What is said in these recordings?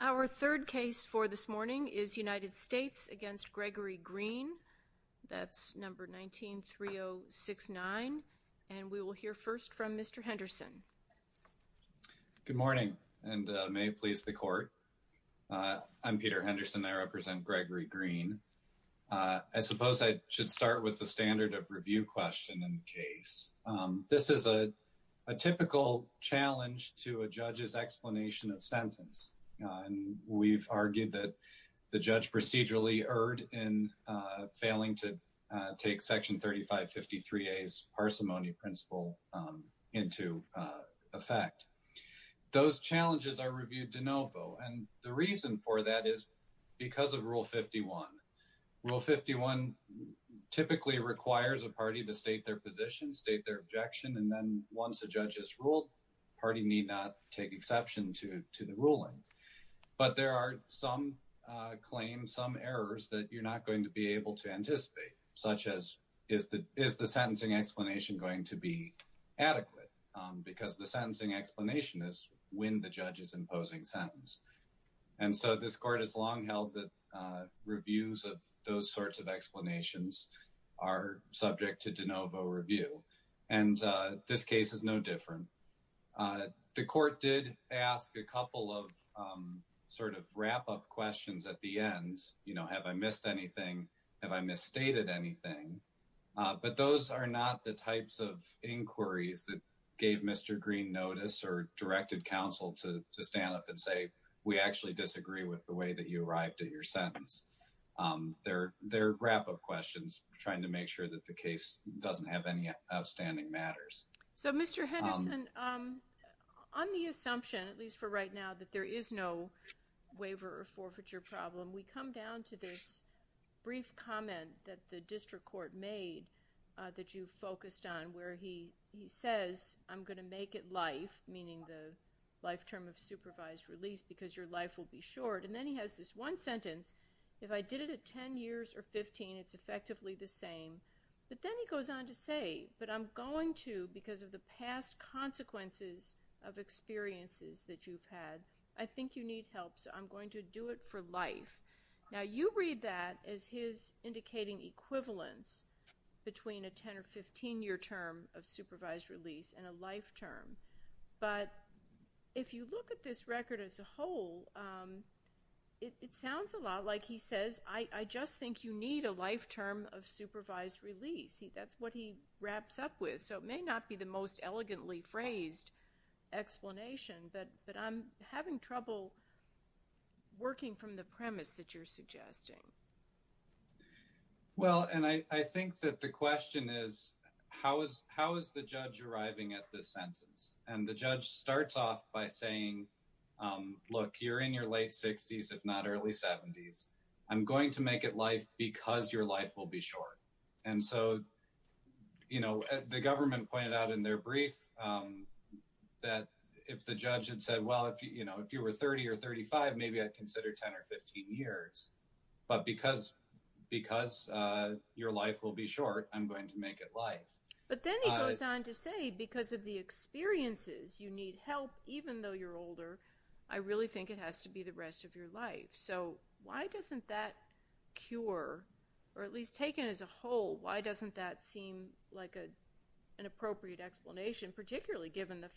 Our third case for this morning is United States against Gregory Greene. That's number 19-3069 and we will hear first from Mr. Henderson. Good morning and may it please the court. I'm Peter Henderson. I represent Gregory Greene. I suppose I should start with the standard of review question in the case. This is a typical challenge to a judge's explanation of sentence. We've argued that the judge procedurally erred in failing to take section 3553A's parsimony principle into effect. Those challenges are reviewed de novo and the reason for that is because of rule 51. Rule 51 typically requires a party to state their position, state their objection, and then once a judge has ruled, party need not take exception to the ruling. But there are some claims, some errors that you're not going to be able to anticipate such as is the sentencing explanation going to be adequate because the sentencing explanation is when the judge is imposing sentence. And so this court has long held that reviews of those sorts of explanations are subject to de novo review. And this case is no different. The court did ask a couple of sort of wrap-up questions at the end. You know, have I missed anything? Have I misstated anything? But those are not the types of inquiries that gave Mr. Greene notice or directed counsel to we actually disagree with the way that you arrived at your sentence. They're wrap-up questions trying to make sure that the case doesn't have any outstanding matters. So Mr. Henderson, on the assumption, at least for right now, that there is no waiver or forfeiture problem, we come down to this brief comment that the district court made that you focused on where he says, I'm going to make it life, meaning the life will be short. And then he has this one sentence, if I did it at 10 years or 15, it's effectively the same. But then he goes on to say, but I'm going to, because of the past consequences of experiences that you've had, I think you need help. So I'm going to do it for life. Now, you read that as his indicating equivalence between a 10 or 15-year term of supervised release and a life term. But if you look at this record as a whole, it sounds a lot like he says, I just think you need a life term of supervised release. That's what he wraps up with. So it may not be the most elegantly phrased explanation, but I'm having trouble working from the premise that you're suggesting. Well, and I think that the question is, how is the judge arriving at this sentence? And the judge starts off by saying, look, you're in your late 60s, if not early 70s, I'm going to make it life because your life will be short. And so, you know, the government pointed out in their brief that if the judge had said, well, if you were 30 or 35, maybe I'd consider 10 or 15 years. But because your life will be short, I'm going to make it life. But then he goes on to say, because of the experiences, you need help even though you're older. I really think it has to be the rest of your life. So why doesn't that cure, or at least taken as a whole, why doesn't that seem like an appropriate explanation, particularly given the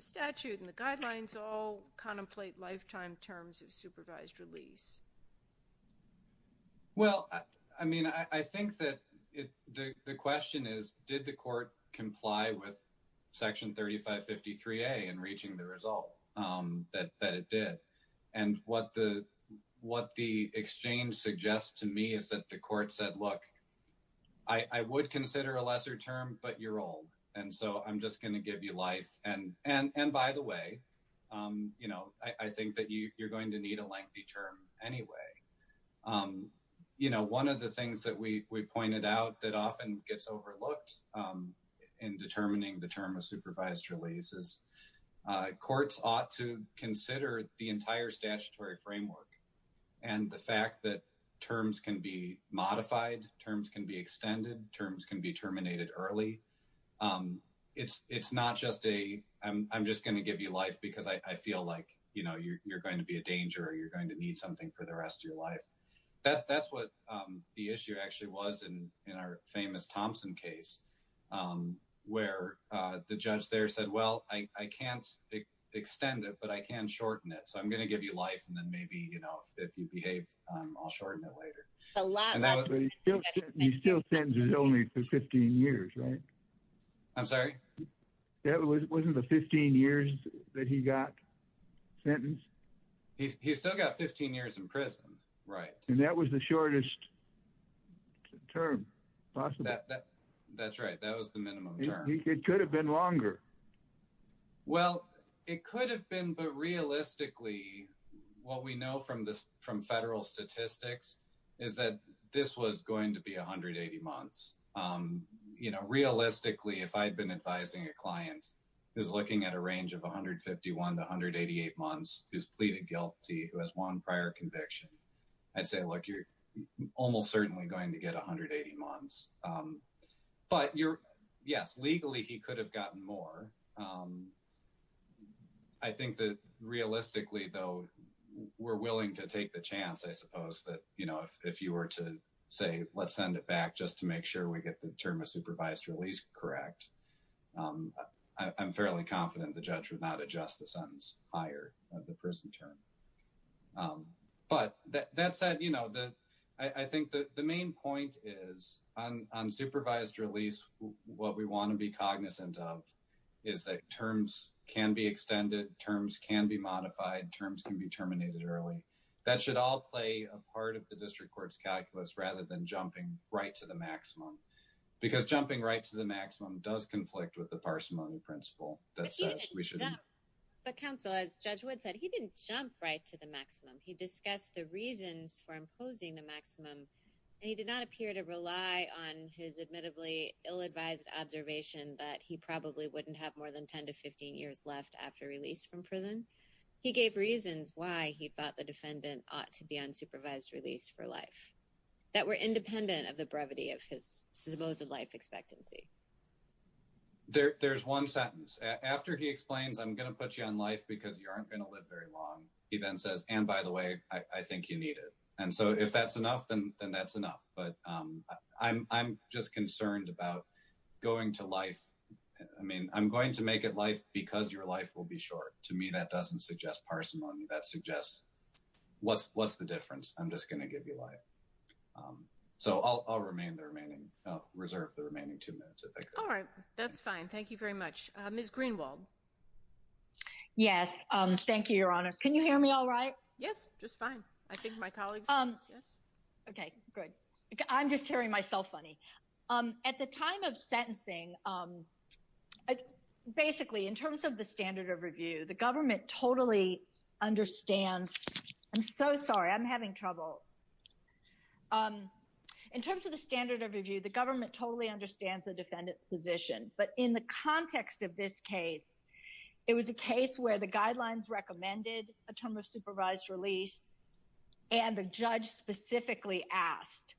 statute and the guidelines all contemplate lifetime terms of supervised release? Well, I mean, I think that the question is, did the court comply with Section 3553A in reaching the result that it did? And what the exchange suggests to me is that the court said, look, I would consider a lesser term, but you're old. And so I'm just going to give you life. And by the way, you know, I think that you're going to need a lengthy term anyway. You know, one of the things that we pointed out that often gets overlooked in determining the term of supervised releases, courts ought to consider the entire statutory framework and the fact that terms can be modified, terms can be extended, terms can be terminated early. It's not just a I'm just going to give you life because I feel like, you know, you're going to be a danger or you're going to need something for the rest of your life. That's what the issue actually was in our famous Thompson case, where the judge there said, well, I can't extend it, but I can shorten it. So I'm going to give you life. And then maybe, you know, if you behave, I'll shorten it later. A lot. He still sends it only for 15 years. Right. I'm sorry. That wasn't the 15 years that he got sentenced. He's still got 15 years in prison. Right. And that was the shortest term possible. That's right. That was the minimum. It could have been longer. Well, it could have been. But realistically, what we know from this from federal statistics is that this was going to be 180 months. You know, realistically, if I'd been advising a client who's looking at a range of 151 to 188 months, who's pleaded guilty, who has won prior conviction, I'd say, look, you're almost certainly going to get 180 months. But you're yes, legally, he could have gotten more. I think that realistically, though, we're willing to take the chance, I suppose, that, you know, if you were to say, let's send it back just to make sure we get the term of supervised release correct. I'm fairly confident the judge would not adjust the sentence higher, the prison term. But that said, you know, I think that the main point is on supervised release, what we want to be cognizant of is that terms can be extended, terms can be modified, terms can be terminated early. That should all play a part of the district court's calculus rather than jumping right to the maximum. Because jumping right to the maximum does conflict with the parsimony principle that says we should. But counsel, as Judge Wood said, he didn't jump right to the maximum. He discussed the reasons for imposing the maximum. And he did not appear to rely on his admittably ill-advised observation that he probably wouldn't have more than 10 to 15 years left after release from prison. He gave reasons why he thought the defendant ought to be on supervised release for life that were independent of the brevity of his supposed life expectancy. There's one sentence. After he explains, I'm going to put you on life because you aren't going to live very long, he then says, and by the way, I think you need it. And so if that's enough, then that's enough. But I'm just concerned about going to life. I mean, I'm going to make it life because your life will be short. To me, that doesn't suggest parsimony. That suggests, what's the difference? I'm just going to give you life. So I'll remain the remaining, reserve the remaining two minutes. All right, that's fine. Thank you very much. Ms. Greenwald. Yes, thank you, Your Honors. Can you hear me all right? Yes, just fine. I think my colleagues, yes. Okay, good. I'm just hearing myself funny. At the time of sentencing, basically, in terms of the standard of review, the government totally understands. I'm so sorry, I'm having trouble. In terms of the standard of review, the government totally understands the defendant's position. But in the context of this case, it was a case where the guidelines recommended a term of supervised release. And the judge specifically asked,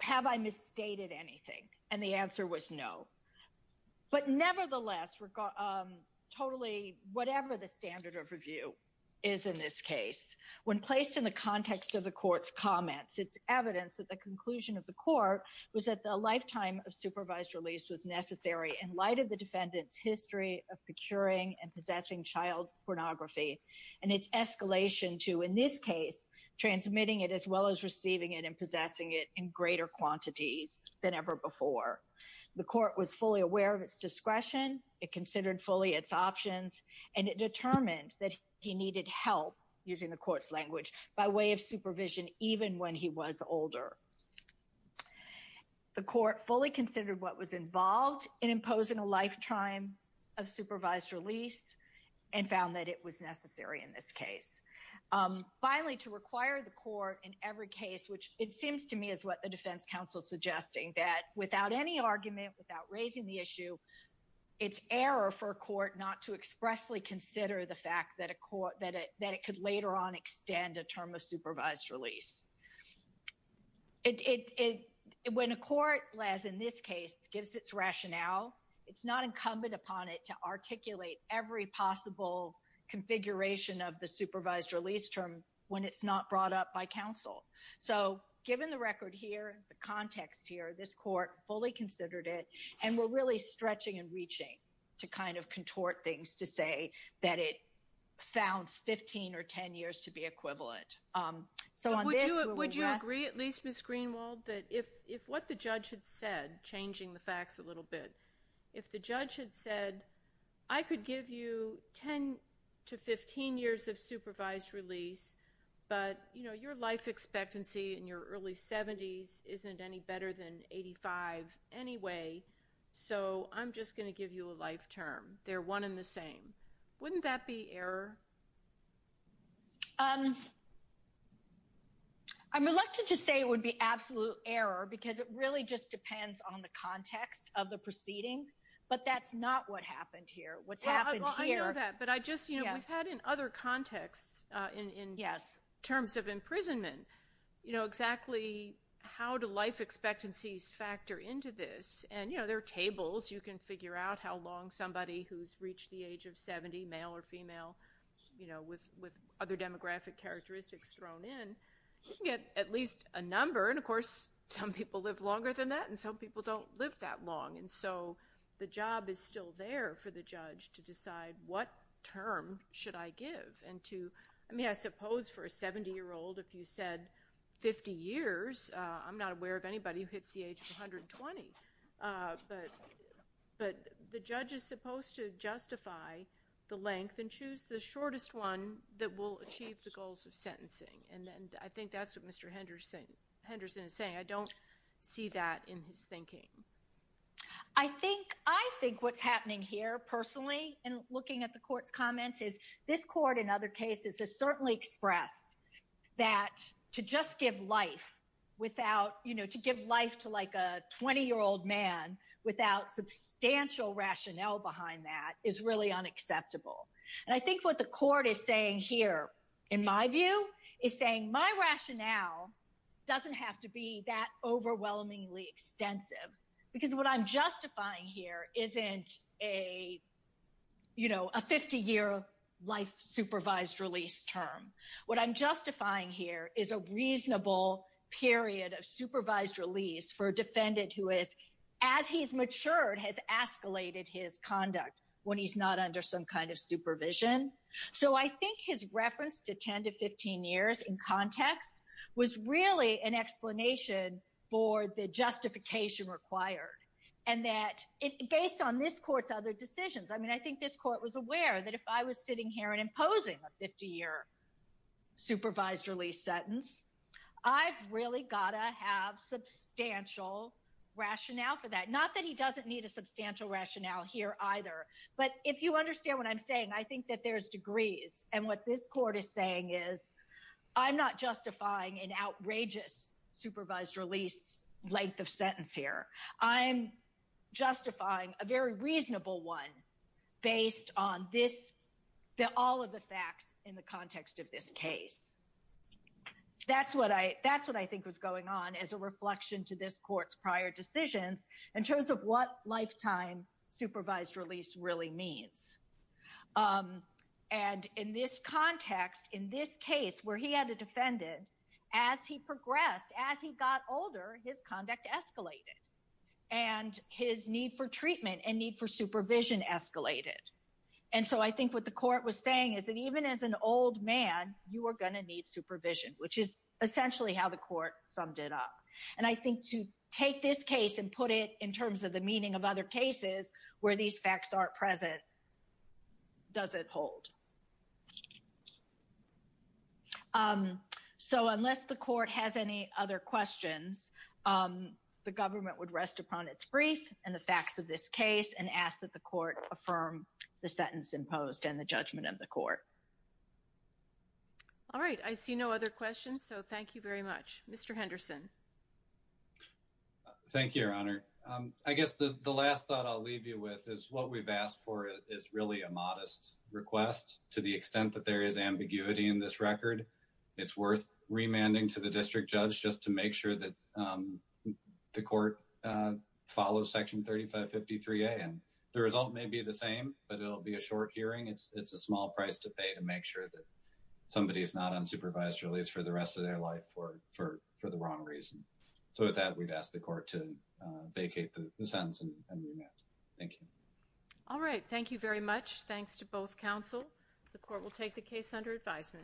have I misstated anything? And the answer was no. But nevertheless, totally, whatever the standard of review is in this case, when placed in the context of the court's comments, it's evidence that the conclusion of the court was that the lifetime of supervised release was necessary in light of the defendant's history of procuring and possessing child pornography and its escalation to, in this case, transmitting it as well as receiving it and possessing it in greater quantities than ever before. The court was fully aware of its discretion. It considered fully its options. And it determined that he needed help, using the court's language, by way of supervision, even when he was older. The court fully considered what was involved in imposing a lifetime of supervised release and found that it was necessary in this case. Finally, to require the court in every case, which it seems to me is what the defense counsel is suggesting, that without any argument, without raising the issue, it's error for a court not to consider a lifetime of supervised release. When a court, as in this case, gives its rationale, it's not incumbent upon it to articulate every possible configuration of the supervised release term when it's not brought up by counsel. So given the record here, the context here, this court fully considered it. And we're really stretching and reaching to kind of contort things to say that it found 15 or 10 years to be equivalent. Would you agree, at least, Ms. Greenwald, that if what the judge had said, changing the facts a little bit, if the judge had said, I could give you 10 to 15 years of supervised release, but, you know, your life expectancy in your early 70s isn't any better than 85 anyway, so I'm just going to give you a life term. They're one and the same. Wouldn't that be error? I'm reluctant to say it would be absolute error, because it really just depends on the context of the proceeding, but that's not what happened here. What's happened here... Well, I know that, but I just, you know, we've had in other contexts in terms of imprisonment, you know, exactly how do life expectancies factor into this? And, you know, there are tables. You can figure out how long somebody who's reached the age of 70, male or female, you know, with other demographic characteristics thrown in, you can get at least a number. And, of course, some people live longer than that, and some people don't live that long. And so the job is still there for the judge to decide what term should I give and to... I mean, I suppose for a 70-year-old, if you said 50 years, I'm not aware of anybody who hits the age of 120. But the judge is supposed to justify the length and choose the shortest one that will achieve the goals of sentencing. And I think that's what Mr. Henderson is saying. I don't see that in his thinking. I think what's happening here, personally, in looking at the court's comments, is this court, in other cases, has certainly expressed that to just give life without, you know, to give life to like a 20-year-old man without substantial rationale behind that is really unacceptable. And I think what the court is saying here, in my view, is saying my rationale doesn't have to be that overwhelmingly extensive, because what I'm justifying here isn't a, you know, a 50-year life supervised release term. What I'm justifying here is a reasonable period of supervised release for a defendant who is, as he's matured, has escalated his conduct when he's not under some kind of supervision. So I think his reference to 10 to 15 years in context was really an explanation for the justification required. And that, based on this court's other decisions, I mean, I think this court was aware that if I was sitting here and imposing a 50-year supervised release sentence, I've really gotta have substantial rationale for that. Not that he doesn't need a substantial rationale here either, but if you understand what I'm saying, I think that there's degrees. And what this court is saying is, I'm not justifying an outrageous supervised release length of sentence here. I'm justifying a very reasonable one based on all of the facts in the context of this case. That's what I think was going on as a reflection to this court's prior decisions in terms of what lifetime supervised release really means. And in this context, in this case where he had a defendant, as he progressed, as he got older, his conduct escalated. And his need for treatment and need for supervision escalated. And so I think what the court was saying is that even as an old man, you are going to need supervision, which is essentially how the court summed it up. And I think to take this case and put it in terms of the meaning of other cases where these facts aren't present doesn't hold. So unless the court has any other questions, the government would rest upon its brief and the facts of this case and ask that the court affirm the sentence imposed and the judgment of the court. All right. I see no other questions, so thank you very much. Mr. Henderson. Thank you, Your Honor. I guess the last thought I'll leave you with is what we've asked for is really a modest request. To the extent that there is ambiguity in this record, it's worth remanding to the district judge just to make sure that the court follows Section 3553A. And the result may be the same, but it'll be a short hearing. It's a small price to pay to make sure that somebody is not unsupervised release for the rest of their life for the wrong reason. So with that, we'd ask the court to vacate the sentence and remand. Thank you. All right. Thank you very much. Thanks to both counsel. The court will take the case under advisement.